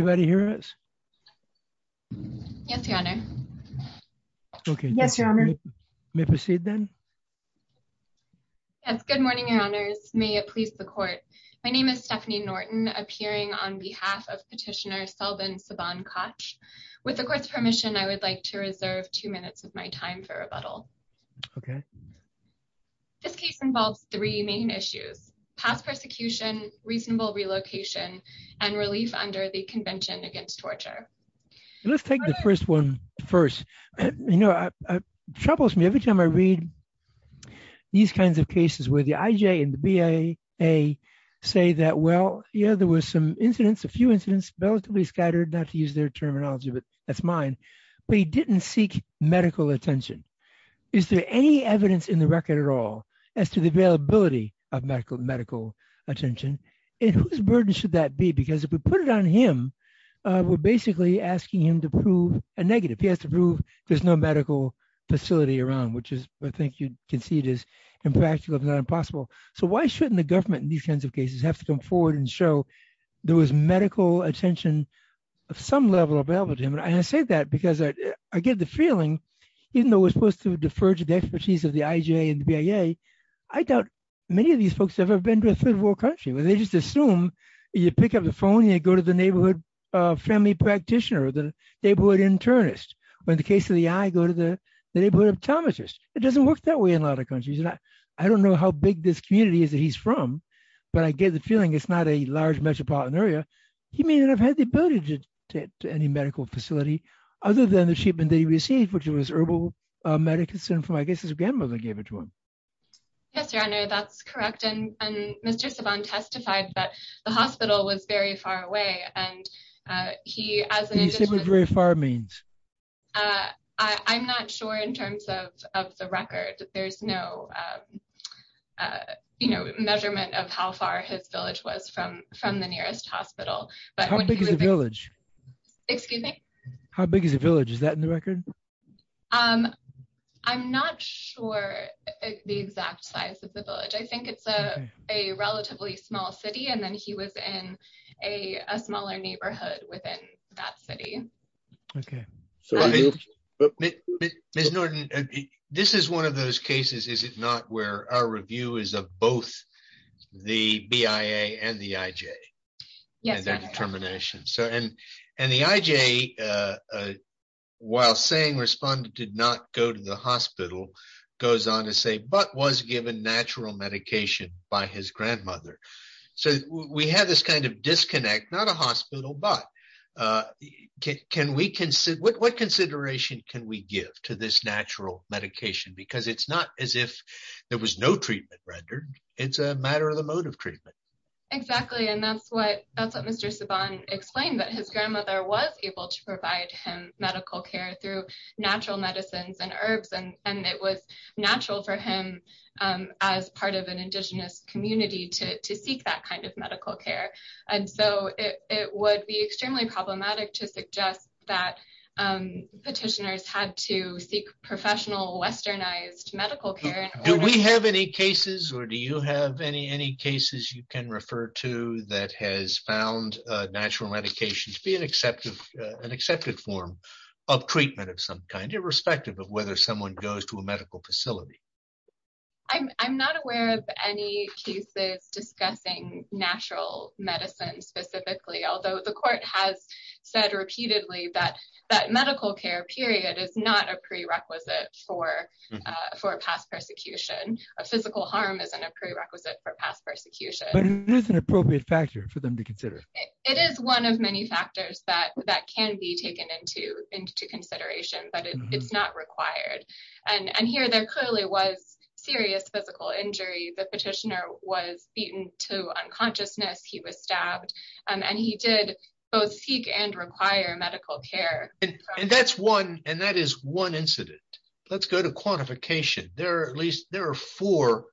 Good morning, Your Honors. May it please the Court. My name is Stephanie Norton, appearing on behalf of Petitioner Selvan Saban-Cach. With the Court's permission, I would like to reserve two minutes of my time for rebuttal. This case involves three main issues—passed Let's take the first one first. You know, it troubles me every time I read these kinds of cases where the IJA and the BIA say that, well, yeah, there were some incidents, a few incidents, relatively scattered—not to use their terminology, but that's mine—but he didn't seek medical attention. Is there any evidence in the record at all as to the availability of medical attention? And whose burden should that be? Because if we put it on him, we're basically asking him to prove a negative. He has to prove there's no medical facility around, which is, I think you can see it as impractical, if not impossible. So why shouldn't the government in these kinds of cases have to come forward and show there was medical attention of some level available to him? And I say that because I get the feeling, even though we're supposed to defer to the expertise of the IJA and the BIA, I doubt many of these folks have ever been to a third-world country, where they just assume you pick up the phone and they go to the neighborhood family practitioner or the neighborhood internist, or in the case of the I, go to the neighborhood optometrist. It doesn't work that way in a lot of countries. I don't know how big this community is that he's from, but I get the feeling it's not a large metropolitan area. He may not have had the ability to get to any medical facility other than the treatment that he received, which was herbal medicine from, I guess, his grandmother gave it to him. Yes, Your Honor, that's correct. And Mr. Savant testified that the hospital was very far away, and he, as an individual... Can you say what very far means? I'm not sure in terms of the record. There's no measurement of how far his village was from the nearest hospital, but when he was... How big is the village? Excuse me? How big is the village? Is that in the record? I'm not sure the exact size of the village. I think it's a relatively small city, and then he was in a smaller neighborhood within that city. Okay. Ms. Norton, this is one of those cases, is it not, where our review is of both the BIA and the IJ? Yes, Your Honor. And their determination. And the IJ, while saying respondent did not go to the hospital, goes on to say, but was given natural medication by his grandmother. So, we have this kind of disconnect, not a hospital, but what consideration can we give to this natural medication? Because it's not as if there was no treatment rendered. It's a matter of the mode of treatment. Exactly. And that's what Mr. Savant explained, that his grandmother was able to provide him medical care through natural medicines and herbs, and it was natural for him, as part of an indigenous community, to seek that kind of medical care. And so, it would be extremely problematic to suggest that petitioners had to seek professional westernized medical care. Do we have any cases, or do you have any cases you can refer to that has found natural medication to be an accepted form of treatment of some kind, irrespective of whether someone goes to a medical facility? I'm not aware of any cases discussing natural medicine specifically, although the court has said repeatedly that medical care period is not a prerequisite for past persecution. A physical harm isn't a prerequisite for past persecution. But it is an appropriate factor for them to consider. It is one of many factors that can be taken into consideration, but it's not required. And here, there clearly was serious physical injury. The petitioner was beaten to unconsciousness, he was stabbed, and he did both seek and require medical care. And that is one incident. Let's go to quantification. There are at least four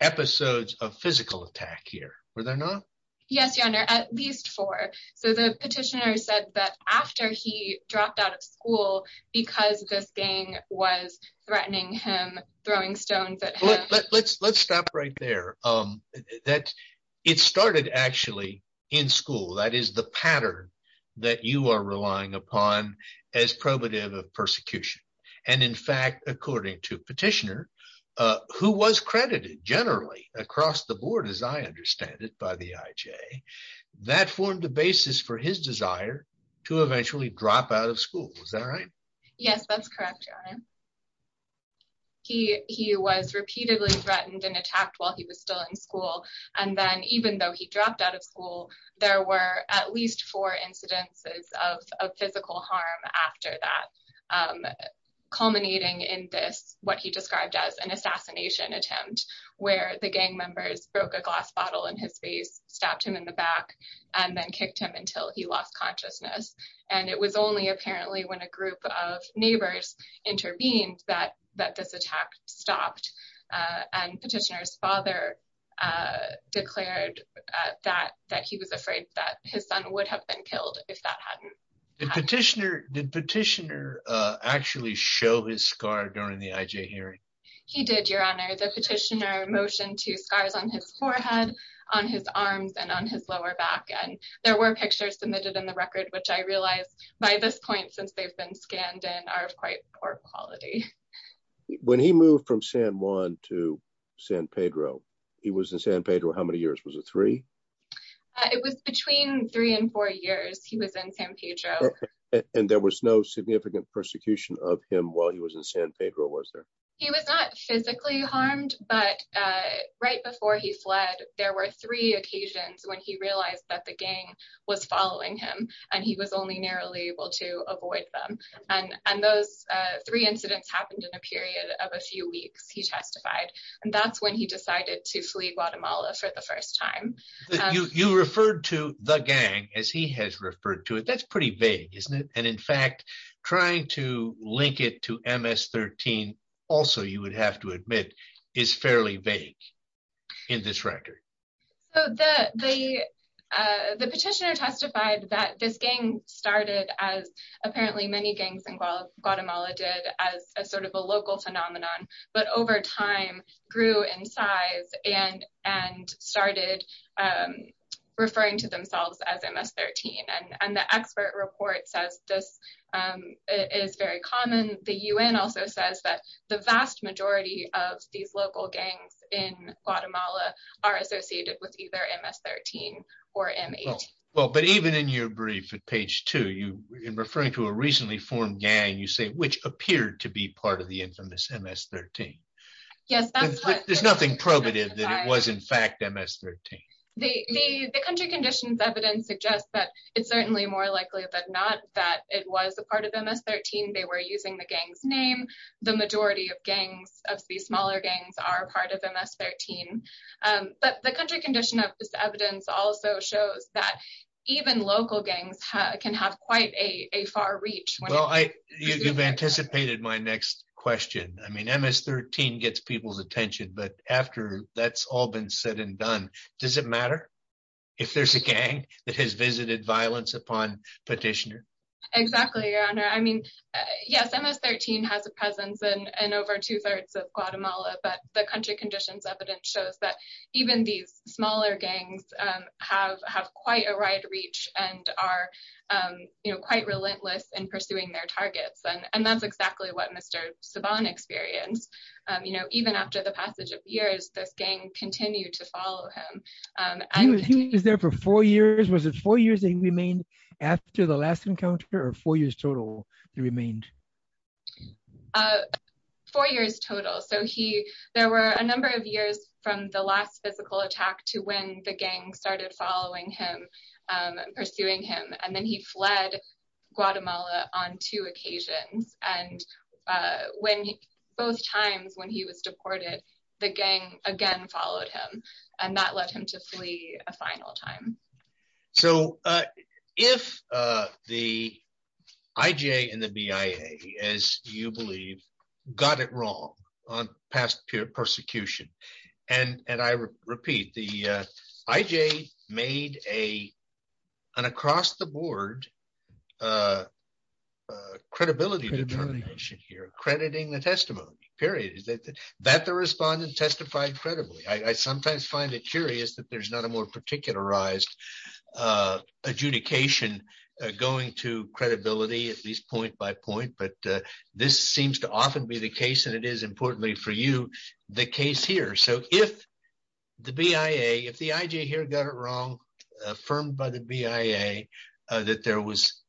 episodes of physical attack here, were there not? Yes, your honor, at least four. So the petitioner said that after he dropped out of school, because this gang was threatening him, throwing stones at him. Let's stop right there. It started actually in school. That is the pattern that you are relying upon as probative of persecution. And in fact, according to petitioner, who was credited generally across the board, as I understand it by the IJ, that formed the basis for his desire to eventually drop out of school. Is that right? Yes, that's correct, your honor. He was repeatedly threatened and attacked while he was still in school. And then even though he dropped out of school, there were at least four incidences of physical harm after that, culminating in this, what he described as an assassination attempt, where the gang members broke a glass bottle in his face, stabbed him in the back, and then kicked him until he lost consciousness. And it was only apparently when a group of neighbors intervened that this attack stopped. And petitioner's father declared that he was afraid that his son would have been killed if that hadn't happened. Did petitioner actually show his scar during the IJ hearing? He did, your honor. The petitioner motioned two scars on his forehead, on his arms, and on his lower back. And there were pictures submitted in the record, which I realized by this point, since they've been scanned and are of quite poor quality. When he moved from San Juan to San Pedro, he was in San Pedro how many years? Was it three? It was between three and four years he was in San Pedro. And there was no significant persecution of him while he was in San Pedro, was there? He was not physically harmed. But right before he fled, there were three occasions when he realized that the gang was following him, and he was only narrowly able to avoid them. And those three incidents happened in a period of a few weeks, he testified. And that's when he decided to flee Guatemala for the first time. You referred to the gang as he has referred to it, that's pretty vague, isn't it? And in fact, trying to link it to MS-13, also, you would have to admit, is fairly vague in this record. So the petitioner testified that this gang started as apparently many gangs in Guatemala did as a sort of a local phenomenon, but over time, grew in size and started referring to themselves as MS-13. And the expert report says this is very common. The UN also says that the vast majority of these local gangs in Guatemala are associated with either MS-13 or M18. Well, but even in your brief at page two, you referring to a recently formed gang, you say, which appeared to be part of the infamous MS-13. There's nothing probative that it was, in fact, MS-13. The country conditions evidence suggests that it's certainly more likely than not that it was a part of MS-13. They were using the gang's name. The majority of gangs of the smaller gangs are part of MS-13. But the country condition of this evidence also shows that even local gangs can have quite a far reach. Well, you've anticipated my next question. I mean, MS-13 gets people's attention, but after that's all been said and done, does it matter if there's a gang that has visited violence upon petitioner? Exactly, your honor. I mean, yes, MS-13 has a presence in over two thirds of Guatemala, but the country conditions evidence shows that even these smaller gangs have quite a wide reach and are quite relentless in pursuing their targets. And that's exactly what Mr. Saban experienced. Even after the passage of years, this gang continued to follow him. He was there for four years. Was it four years that he remained after the last encounter or four years total he remained? Four years total. So there were a number of years from the last physical attack to when the gang started following him and pursuing him. And then he fled Guatemala on two occasions. And both times when he was deported, the gang again followed him and that led him to flee a final time. So if the IJ and the BIA, as you believe, got it wrong on past persecution, and I repeat, the IJ made an across the board credibility determination here, crediting the testimony, period. That the respondent testified credibly. I sometimes find it curious that there's not a more particularized adjudication going to credibility at least point by point, but this seems to often be the case. And it is importantly for you, the case here. So if the BIA, if the IJ here got it wrong, affirmed by the BIA that there was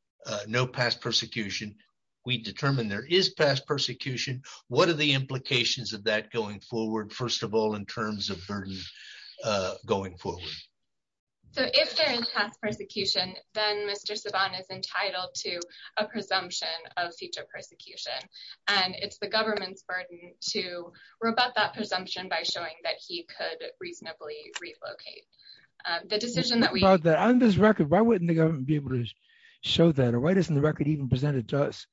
no past persecution, we determined there is past persecution. What are the implications of that going forward? First of all, in terms of burden going forward. So if there is past persecution, then Mr. Saban is entitled to a presumption of future persecution. And it's the government's burden to rebut that presumption by showing that he could reasonably relocate. The decision that we... On this record, why wouldn't the government be able to show that? Or why doesn't the record even presented to us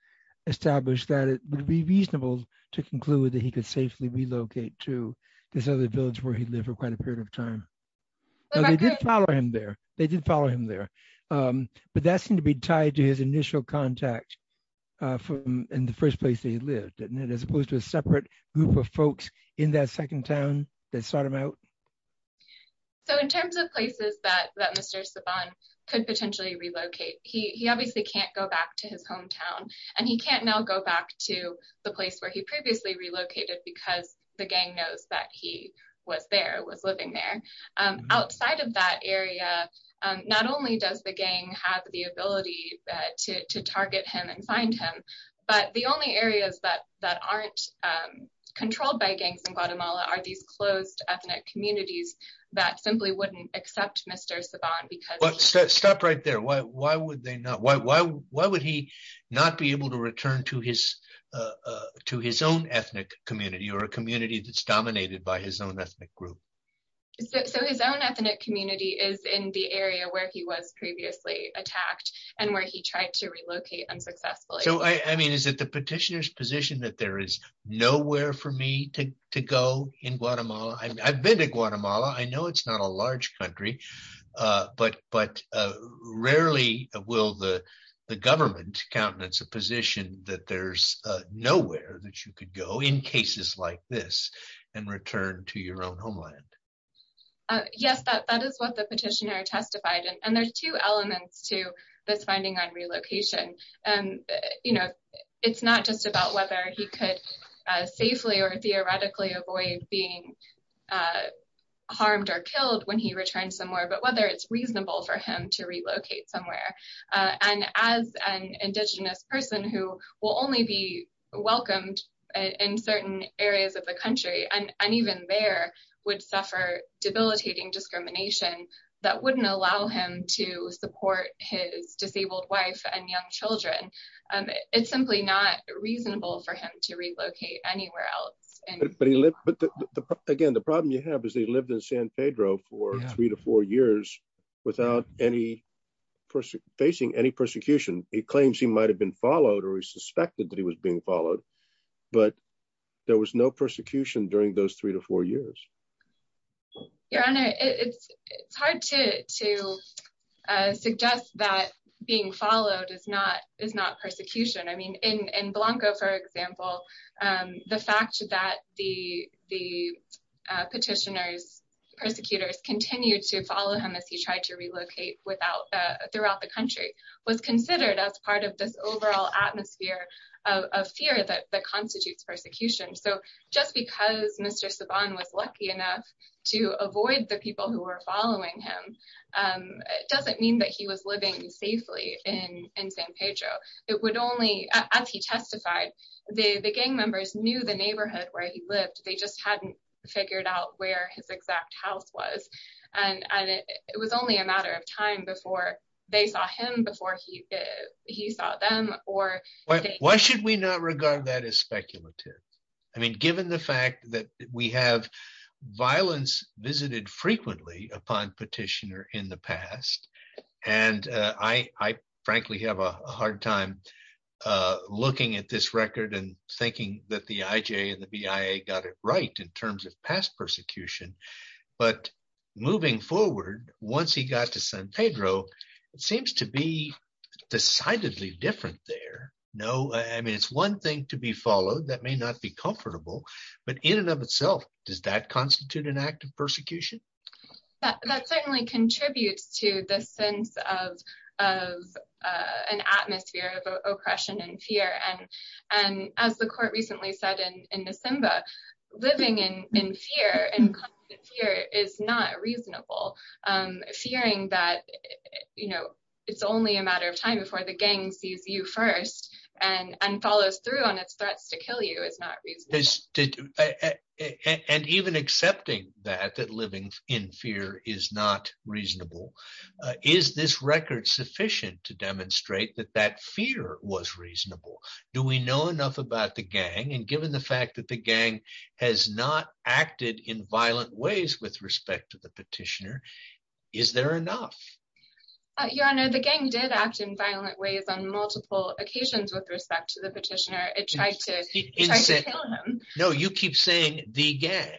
establish that it would be reasonable to conclude that he could safely relocate to this other village where he lived for quite a period of time? They did follow him there. They did follow him there. But that seemed to be tied to his initial contact in the first place that he lived, as opposed to a separate group of folks in that second town that sought him out. So in terms of places that Mr. Saban could potentially relocate, he obviously can't go back to his hometown. And he can't now go back to the place where he previously relocated because the gang knows that he was there, was living there. Outside of that area, not only does the gang have the ability to target him and find him, but the only areas that aren't controlled by gangs in Guatemala are these closed ethnic communities that simply wouldn't accept Mr. Saban because... Stop right there. Why would why would he not be able to return to his own ethnic community or a community that's dominated by his own ethnic group? So his own ethnic community is in the area where he was previously attacked and where he tried to relocate unsuccessfully. So I mean, is it the petitioner's position that there is nowhere for me to go in Guatemala? I've been to Guatemala. I know it's not a large country. But rarely will the government countenance a position that there's nowhere that you could go in cases like this and return to your own homeland. Yes, that is what the petitioner testified. And there's two elements to this finding on relocation. And it's not just whether he could safely or theoretically avoid being harmed or killed when he returned somewhere, but whether it's reasonable for him to relocate somewhere. And as an indigenous person who will only be welcomed in certain areas of the country, and even there, would suffer debilitating discrimination that wouldn't allow him to support his disabled wife and young children. It's simply not reasonable for him to relocate anywhere else. But again, the problem you have is he lived in San Pedro for three to four years without facing any persecution. He claims he might have been followed or he suspected that he was being followed. But there was no persecution during those three to four years. Your Honor, it's hard to suggest that being followed is not persecution. I mean, in Blanco, for example, the fact that the petitioners, persecutors, continued to follow him as he tried to relocate throughout the country was considered as part of this overall atmosphere of fear that constitutes persecution. So just because Mr. Saban was lucky enough to avoid the people who were following him, doesn't mean that he was living safely in San Pedro. It would only, as he testified, the gang members knew the neighborhood where he lived. They just hadn't figured out where his exact house was. And it was only a matter of time before they saw him before he saw them. Why should we not regard that as speculative? I mean, given the fact that we have violence visited frequently upon petitioner in the past, and I frankly have a hard time looking at this record and thinking that the IJ and the BIA got it right in terms of past persecution. But moving forward, once he got to San Pedro, it seems to be decidedly different there. No, I mean, it's one thing to be followed, that may not be comfortable, but in and of itself, does that constitute an act of persecution? That certainly contributes to the sense of an atmosphere of oppression and fear. And as the court recently said in Nisimba, living in fear and constant fear is not reasonable. Fearing that, you know, it's only a matter of time before the gang sees you first and follows through on its threats to kill you is not reasonable. And even accepting that, that living in fear is not reasonable. Is this record sufficient to demonstrate that that fear was reasonable? Do we know enough about the gang? And given the fact that the gang has not acted in violent ways with respect to the petitioner, is there enough? Your Honor, the gang did act in violent ways on multiple occasions with respect to the petitioner. He tried to kill him. No, you keep saying the gang.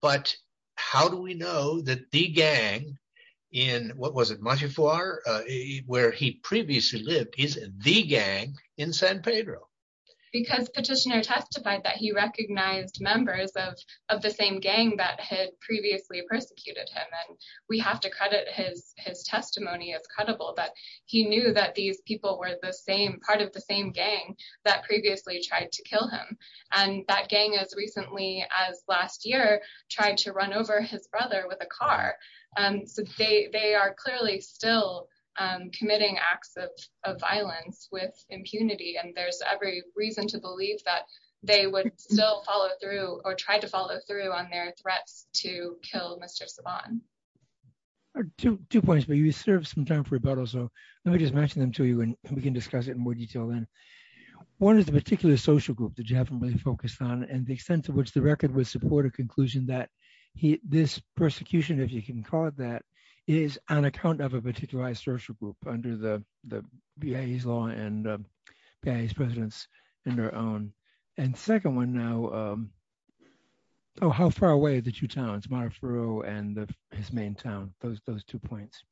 But how do we know that the gang in, what was it, Montefiore, where he previously lived, is the gang in San Pedro? Because petitioner testified that he recognized members of the same gang that had previously persecuted him. And we have to credit his testimony as credible, that he knew that these tried to kill him. And that gang, as recently as last year, tried to run over his brother with a car. So they are clearly still committing acts of violence with impunity. And there's every reason to believe that they would still follow through or try to follow through on their threats to kill Mr. Saban. Two points, but you served some time for rebuttal. So let me just mention them to you and we can discuss it in more detail then. One is the particular social group that you haven't really focused on and the extent to which the record would support a conclusion that this persecution, if you can call it that, is on account of a particularized social group under the VA's law and VA's presence in their own. And second one now, how far away are the two towns, Montefiore and his main town, those two points?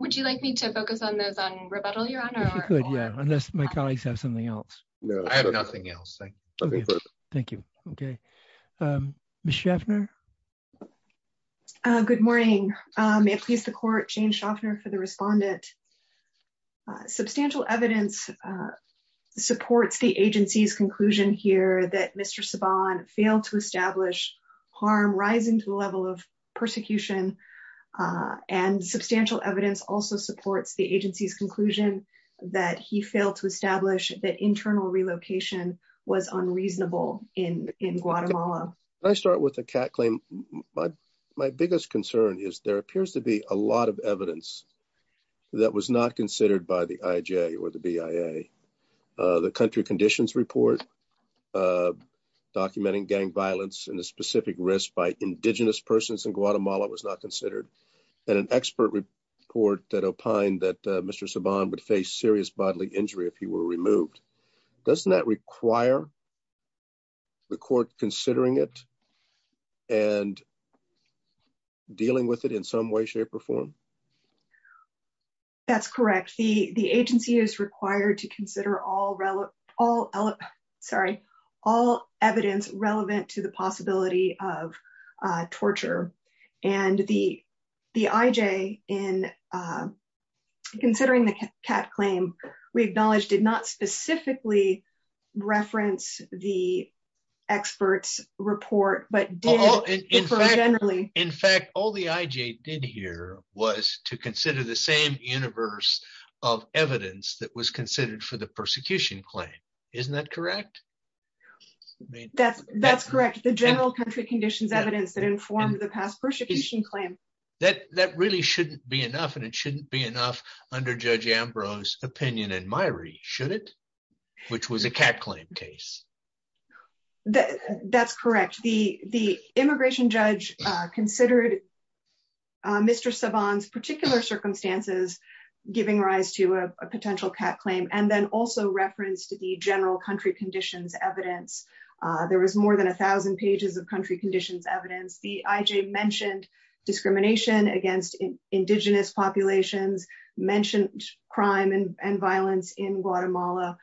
Would you like me to focus on those on rebuttal, Your Honor? If you could, yeah. Unless my colleagues have something else. No, I have nothing else. Thank you. Okay. Ms. Schaffner? Good morning. May it please the court, Jane Schaffner for the respondent. Substantial evidence supports the agency's conclusion here that Mr. Saban failed to establish harm rising to the level of persecution. And substantial evidence also supports the conclusion that he failed to establish that internal relocation was unreasonable in Guatemala. I start with a cat claim. My biggest concern is there appears to be a lot of evidence that was not considered by the IJ or the BIA. The country conditions report documenting gang violence and the specific risk by indigenous persons in Guatemala was not Mr. Saban would face serious bodily injury if he were removed. Doesn't that require the court considering it and dealing with it in some way, shape, or form? That's correct. The agency is required to consider all relevant, sorry, all evidence relevant to the possibility of torture. And the IJ in considering the cat claim, we acknowledge did not specifically reference the expert's report, but did generally. In fact, all the IJ did here was to consider the same universe of evidence that was considered for the persecution claim. Isn't that correct? That's correct. The general country conditions evidence that informed the past persecution claim. That really shouldn't be enough, and it shouldn't be enough under Judge Ambrose opinion and Myrie, should it? Which was a cat claim case. That's correct. The immigration judge considered Mr. Saban's particular circumstances giving rise to a potential cat claim and then also referenced the general country conditions evidence. There was more than a thousand pages of country conditions evidence. The IJ mentioned discrimination against indigenous populations, mentioned crime and violence in Guatemala,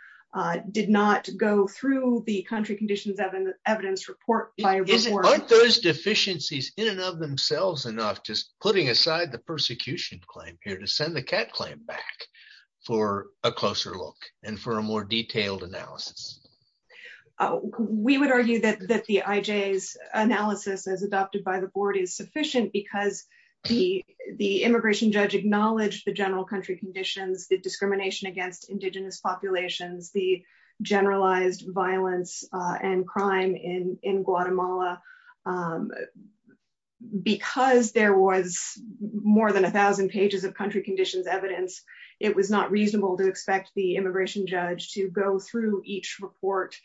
did not go through the country conditions evidence report. Aren't those deficiencies in and of themselves enough just putting aside the persecution claim here to send the cat claim back for a closer look and for a more detailed analysis? We would argue that the IJ's analysis as adopted by the board is sufficient because the immigration judge acknowledged the general country conditions, the discrimination against indigenous populations, the generalized violence and crime in Guatemala. Because there was more than a thousand pages of country conditions evidence, it was not reasonable to expect the immigration judge to go through each report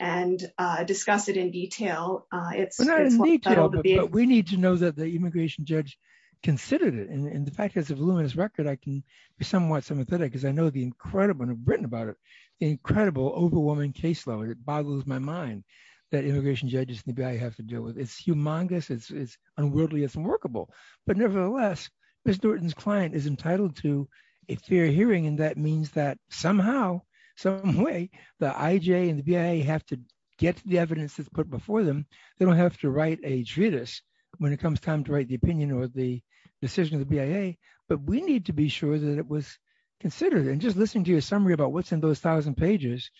and discuss it in detail. We need to know that the immigration judge considered it and the fact has a voluminous record. I can be somewhat sympathetic because I know the incredible, and I've written about it, incredible, overwhelming case law. It boggles my mind that immigration judges in the BIA have to deal with. It's humongous, it's unworldly, it's unworkable. But nevertheless, Ms. Norton's client is entitled to a fair hearing and that means that somehow, some way, the IJ and the BIA have to get to the evidence that's put before them. They don't have to write a treatise when it comes time to write the opinion or the decision of the BIA, but we need to be sure that it was considered. Just listening to your summary about what's in those thousand pages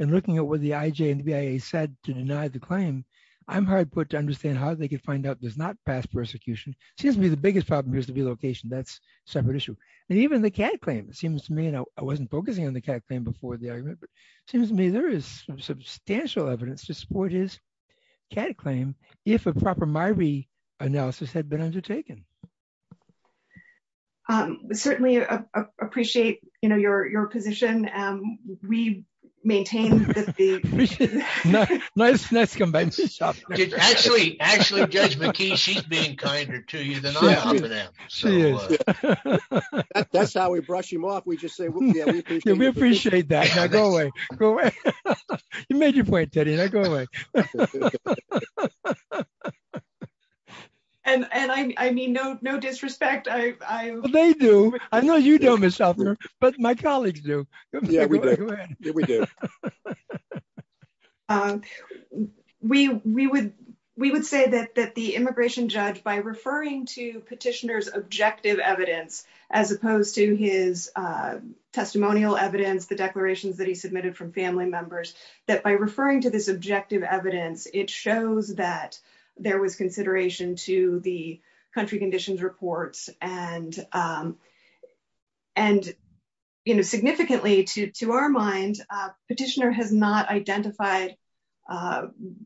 and looking at what the IJ and the BIA said to deny the claim, I'm hard put to understand how they could find out there's not past persecution. It seems to me the biggest problem here is the relocation, that's a separate issue. Even the CAD claim, it seems to me, and I wasn't focusing on the CAD claim before the argument, but it seems to me there is substantial evidence to support his CAD claim if a proper MIRI analysis had been undertaken. Certainly, I appreciate your position. We maintain that the... Nice combination. Actually, Judge McKee, she's being kinder to you than I am to them. That's how we brush them off. We just say, we appreciate that. Now go away. You made your point, Teddy. Now go away. And I mean, no disrespect. They do. I know you don't, Ms. Huffner, but my colleagues do. Yeah, we do. We would say that the immigration judge, by referring to petitioner's objective evidence, as opposed to his testimonial evidence, the declarations that he submitted from family members, that by referring to this objective evidence, it shows that there was consideration to the country conditions reports. And significantly to our mind, petitioner has not identified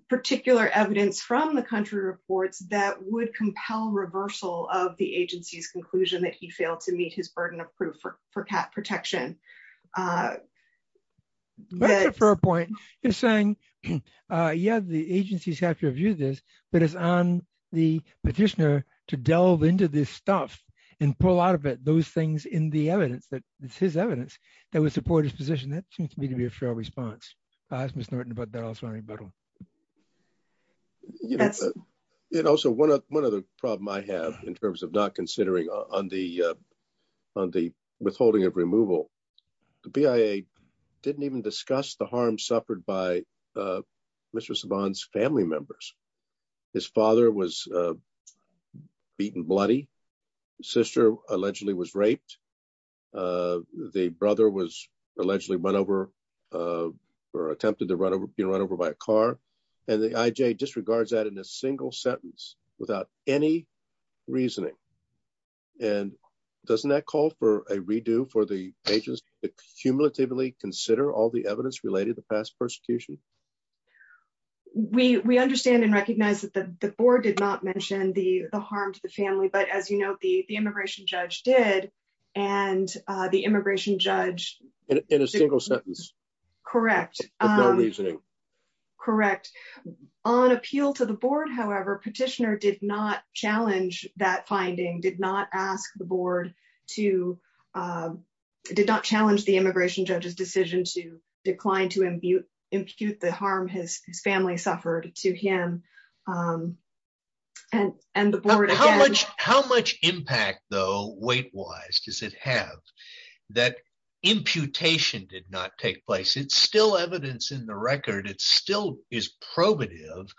particular evidence from the country reports that would compel reversal of the agency's conclusion that he failed to meet his burden of proof for protection. That's a fair point. You're saying, yeah, the agencies have to review this, but it's on the petitioner to delve into this stuff and pull out of it those things in the evidence, that it's his evidence that would support his position. That seems to me to be a fair response. I asked Ms. Norton about that also. But also one of the problem I have in terms of not considering on the withholding of removal, the BIA didn't even discuss the harm suffered by Mr. Saban's family members. His father was beaten bloody. His sister allegedly was raped. The brother was allegedly run over or attempted to be run over by a car. And the IJ disregards that in a single sentence without any reasoning. And doesn't that call for a redo for the agency to cumulatively consider all the evidence related to the past persecution? We understand and recognize that the board did not mention the harm to the family, but as you know, the immigration judge did. And the immigration judge- In a single sentence. Correct. With no reasoning. Correct. On appeal to the board, however, petitioner did not challenge that finding, did not ask the board to, did not challenge the immigration judge's decision to decline to impute the harm his family suffered to him. And the board again- How much impact though, weight wise, does it have that imputation did not take place? It's still evidence in the record. It still is probative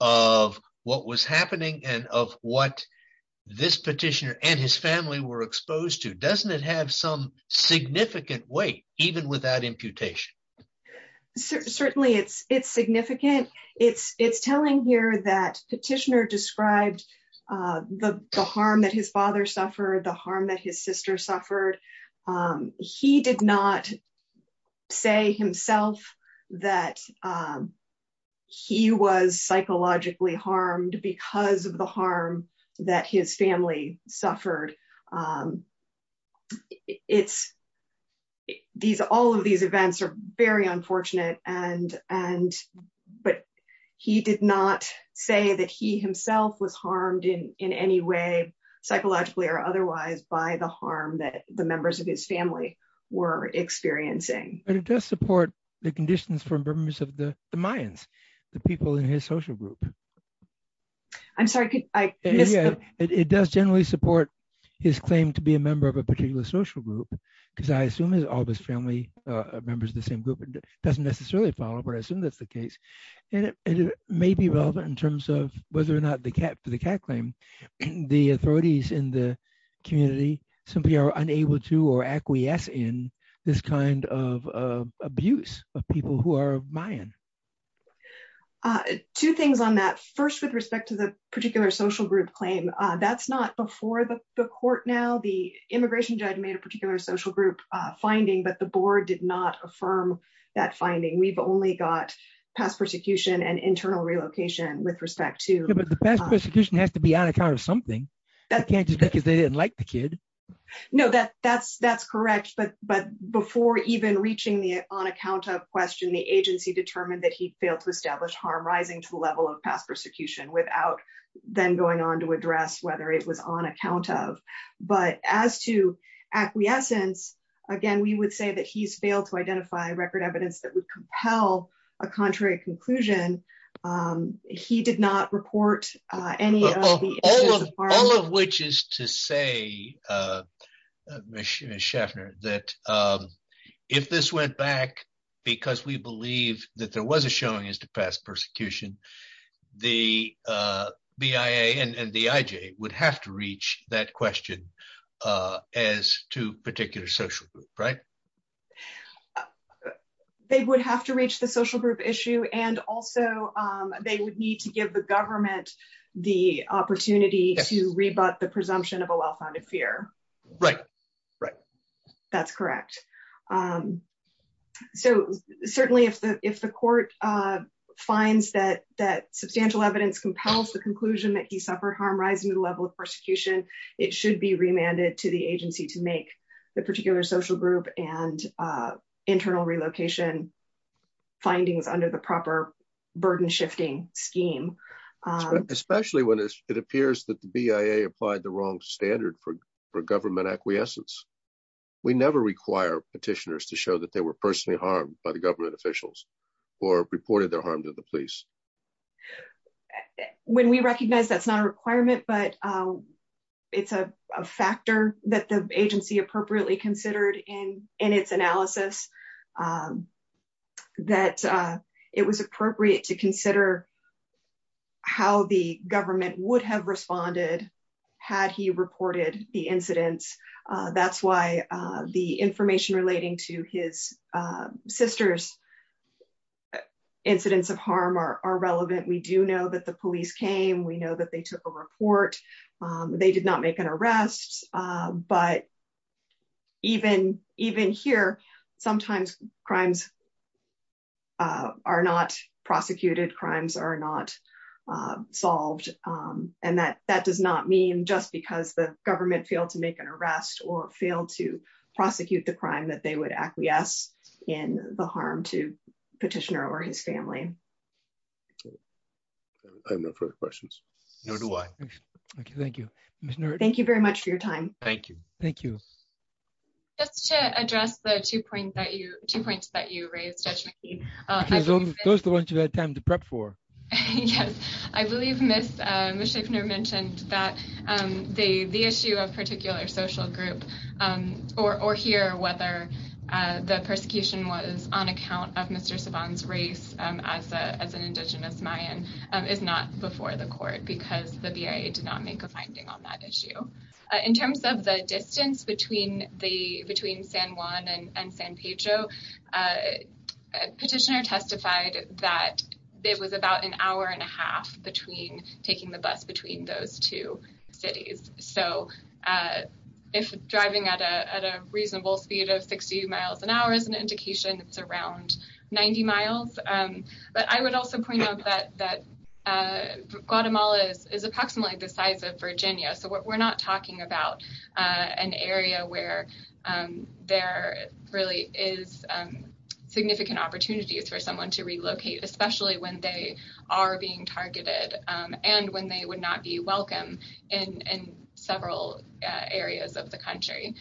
of what was happening and of what this petitioner and his family were exposed to. Doesn't it have some significant weight even without imputation? Certainly it's significant. It's telling here that petitioner described the harm that his father suffered, the harm that his sister suffered. He did not say himself that he was psychologically harmed because of the harm that his family suffered. All of these events are very unfortunate, but he did not say that he himself was harmed in any way psychologically or otherwise by the harm that the members of his family were experiencing. But it does support the conditions for members of the Mayans, the people in his social group. I'm sorry, could I- It does generally support his claim to be a member of a particular social group because I assume all of his family members are the same group. It doesn't necessarily follow, but I assume that's the case. And it may be relevant in terms of whether or not for the CAT claim, the authorities in the community simply are unable to or acquiesce in this kind of First, with respect to the particular social group claim, that's not before the court now. The immigration judge made a particular social group finding, but the board did not affirm that finding. We've only got past persecution and internal relocation with respect to- But the past persecution has to be on account of something. That can't just be because they didn't like the kid. No, that's correct. But before even reaching the on account of question, the agency determined that he failed to establish harm rising to the level of past persecution without then going on to address whether it was on account of. But as to acquiescence, again, we would say that he's failed to identify record evidence that would compel a contrary conclusion. He did not report any of the- All of which is to say, Ms. Schaffner, that if this went back because we believe that there was a showing as to past persecution, the BIA and the IJ would have to reach that question as to particular social group, right? They would have to reach the social group issue and also they would need to give the government the opportunity to rebut the presumption of a well-founded fear. Right. Right. That's correct. So certainly if the court finds that substantial evidence compels the conclusion that he suffered harm rising to the level of persecution, it should be remanded to the agency to make the particular social group and internal relocation findings under the proper burden shifting scheme. Especially when it appears that the BIA applied the wrong standard for government acquiescence. We never require petitioners to show that they were personally harmed by the government officials or reported their harm to the police. When we recognize that's not a requirement, but it's a factor that the agency appropriately considered in its analysis, that it was appropriate to consider how the government would have responded had he reported the incidents. That's why the information relating to his sister's incidents of harm are relevant. We do know that the police came. We know that they took a rest. But even here, sometimes crimes are not prosecuted. Crimes are not solved. And that does not mean just because the government failed to make an arrest or failed to prosecute the crime that they would acquiesce in the harm to petitioner or his family. I have no further questions. No, do I. Thank you. Thank you very much for your time. Thank you. Thank you. Just to address the two points that you raised. Those are the ones you had time to prep for. Yes, I believe Ms. Schaffner mentioned that the issue of particular social group or here, whether the persecution was on account of Mr. Saban's race as an indigenous Mayan is not before the court because the BIA did not make a finding on that issue. In terms of the distance between San Juan and San Pedro, petitioner testified that it was about an hour and a half between taking the bus between those two cities. So if driving at a reasonable speed of 60 miles an hour is an indication, it's around 90 miles. But I would also point out that Guatemala is approximately the size of Virginia. So we're not talking about an area where there really is significant opportunities for someone to relocate, especially when they are being targeted and when they would not be welcome in several areas of the country.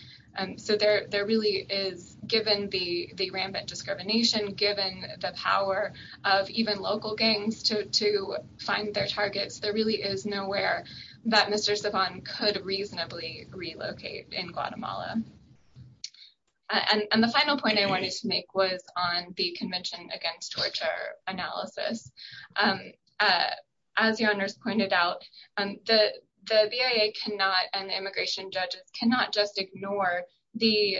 So there really is, given the rampant discrimination, given the power of even local gangs to find their targets, there really is nowhere that Mr. Saban could reasonably relocate in Guatemala. And the final point I wanted to make was on the Convention Against Torture analysis. As your honors pointed out, the BIA and the immigration judges cannot just ignore the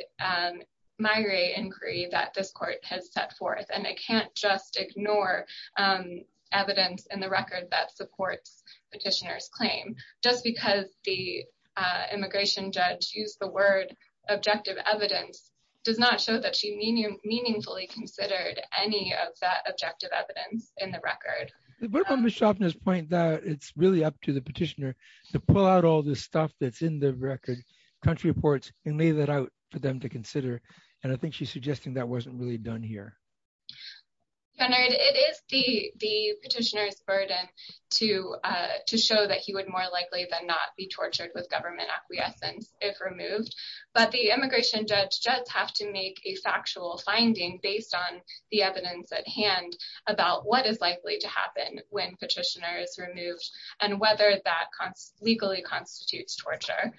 inquiry that this court has set forth. And they can't just ignore evidence in the record that supports petitioner's claim. Just because the immigration judge used the word objective evidence does not show that she meaningfully considered any of that objective evidence in the record. But on Ms. Schaffner's point that it's really up to the petitioner to pull out all this stuff that's in the record, country reports, and lay that out for them to consider. And I think she's suggesting that wasn't really done here. Leonard, it is the petitioner's burden to show that he would more likely than not be tortured with government acquiescence if removed. But the immigration judge does have to make a factual finding based on the evidence at hand about what is likely to happen when petitioner is removed and whether that legally constitutes torture,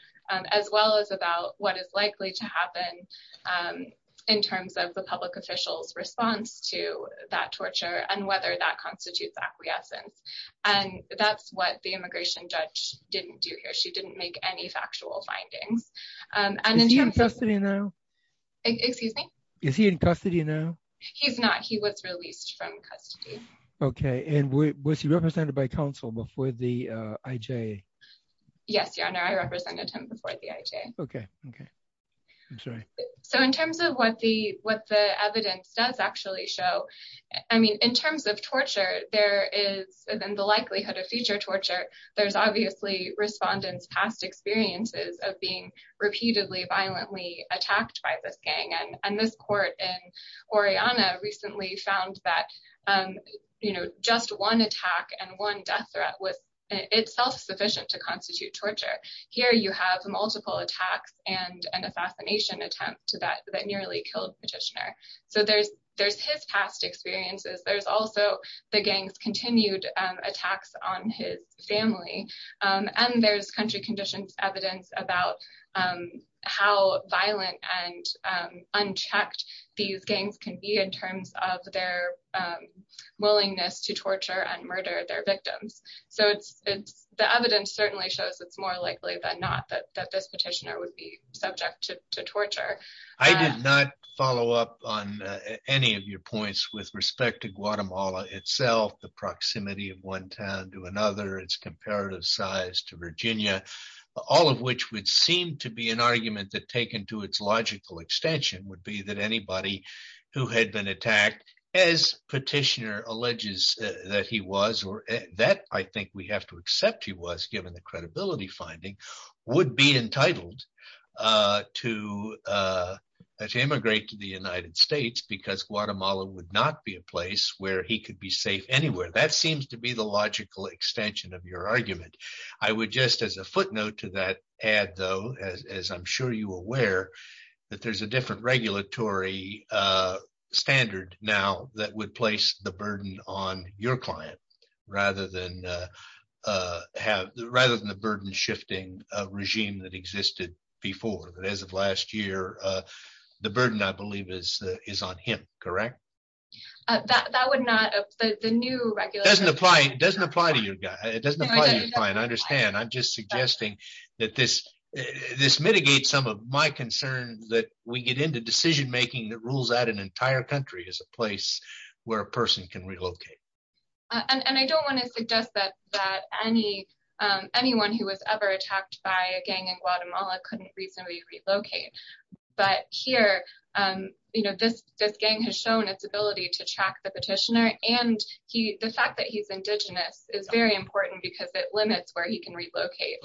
as well as about what is likely to happen in terms of the public official's response to that torture and whether that constitutes acquiescence. And that's what the immigration judge didn't do here. She didn't make any factual findings. Is he in custody now? Excuse me? Is he in custody now? He's not. He was released from custody. Okay. And was he represented by counsel before the IJ? Yes, your honor. I represented him before the IJ. Okay. Okay. I'm sorry. So in terms of what the evidence does actually show, I mean, in terms of torture, there is the likelihood of future torture. There's obviously respondents' past experiences of being repeatedly violently attacked by this gang. And this court in Oriana recently found that just one attack and one death threat was itself sufficient to constitute torture. Here you have multiple attacks and a fascination attempt that nearly killed petitioner. So there's his past experiences. There's also the gang's continued attacks on his family. And there's country conditions evidence about how violent and unchecked these gangs can be in terms of their willingness to torture and murder their victims. So the evidence certainly shows it's more likely than not that this petitioner would be subject to torture. I did not follow up on any of your points with respect to Guatemala itself, the proximity of one town to another, its comparative size to Virginia, all of which would seem to be an argument that taken to its logical extension would be that anybody who had been attacked as petitioner alleges that he was, or that I think we have to accept he was given the credibility finding, would be entitled to immigrate to the United States because Guatemala would not be a place where he could be safe anywhere. That seems to be the logical extension of your argument. I would just as a footnote to that add though, as I'm sure you aware, that there's a different regulatory standard now that would place the burden on your client rather than the burden shifting regime that existed before. But as of last year, the burden I believe is on him, correct? That would not, the new regular... Doesn't apply to your guy. It doesn't apply to your client. I understand. I'm just suggesting that this mitigates some of my concern that we get into decision-making that rules out an entire country as a place where a person can relocate. And I don't want to suggest that anyone who was ever attacked by a gang in Guatemala couldn't reasonably relocate. But here, this gang has shown its ability to track the petitioner and the fact that he's indigenous is very important because it limits where he can relocate.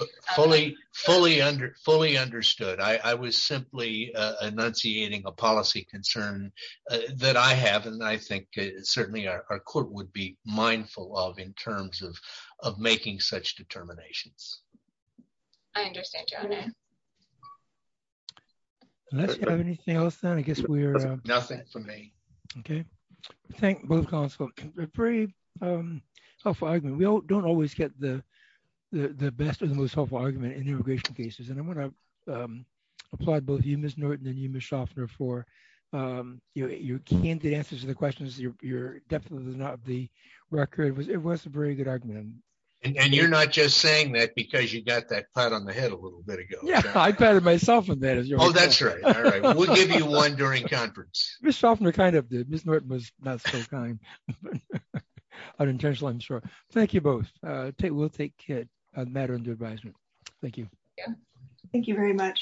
Fully understood. I was simply enunciating a policy concern that I have and I think certainly our court would be mindful of in terms of making such determinations. I understand, Your Honor. Unless you have anything else, then I guess we're... Nothing for me. Okay. Thank both counsel. A pretty helpful argument. We don't always get the best or the most helpful argument in immigration cases. And I want to applaud both you, Ms. Norton, and you, Ms. Faulkner. It was a very good argument. And you're not just saying that because you got that pat on the head a little bit ago. Yeah, I patted myself on the head. Oh, that's right. All right. We'll give you one during conference. Ms. Faulkner kind of did. Ms. Norton was not so kind. Unintentional, I'm sure. Thank you both. We'll take matter into advisement. Thank you. Thank you very much.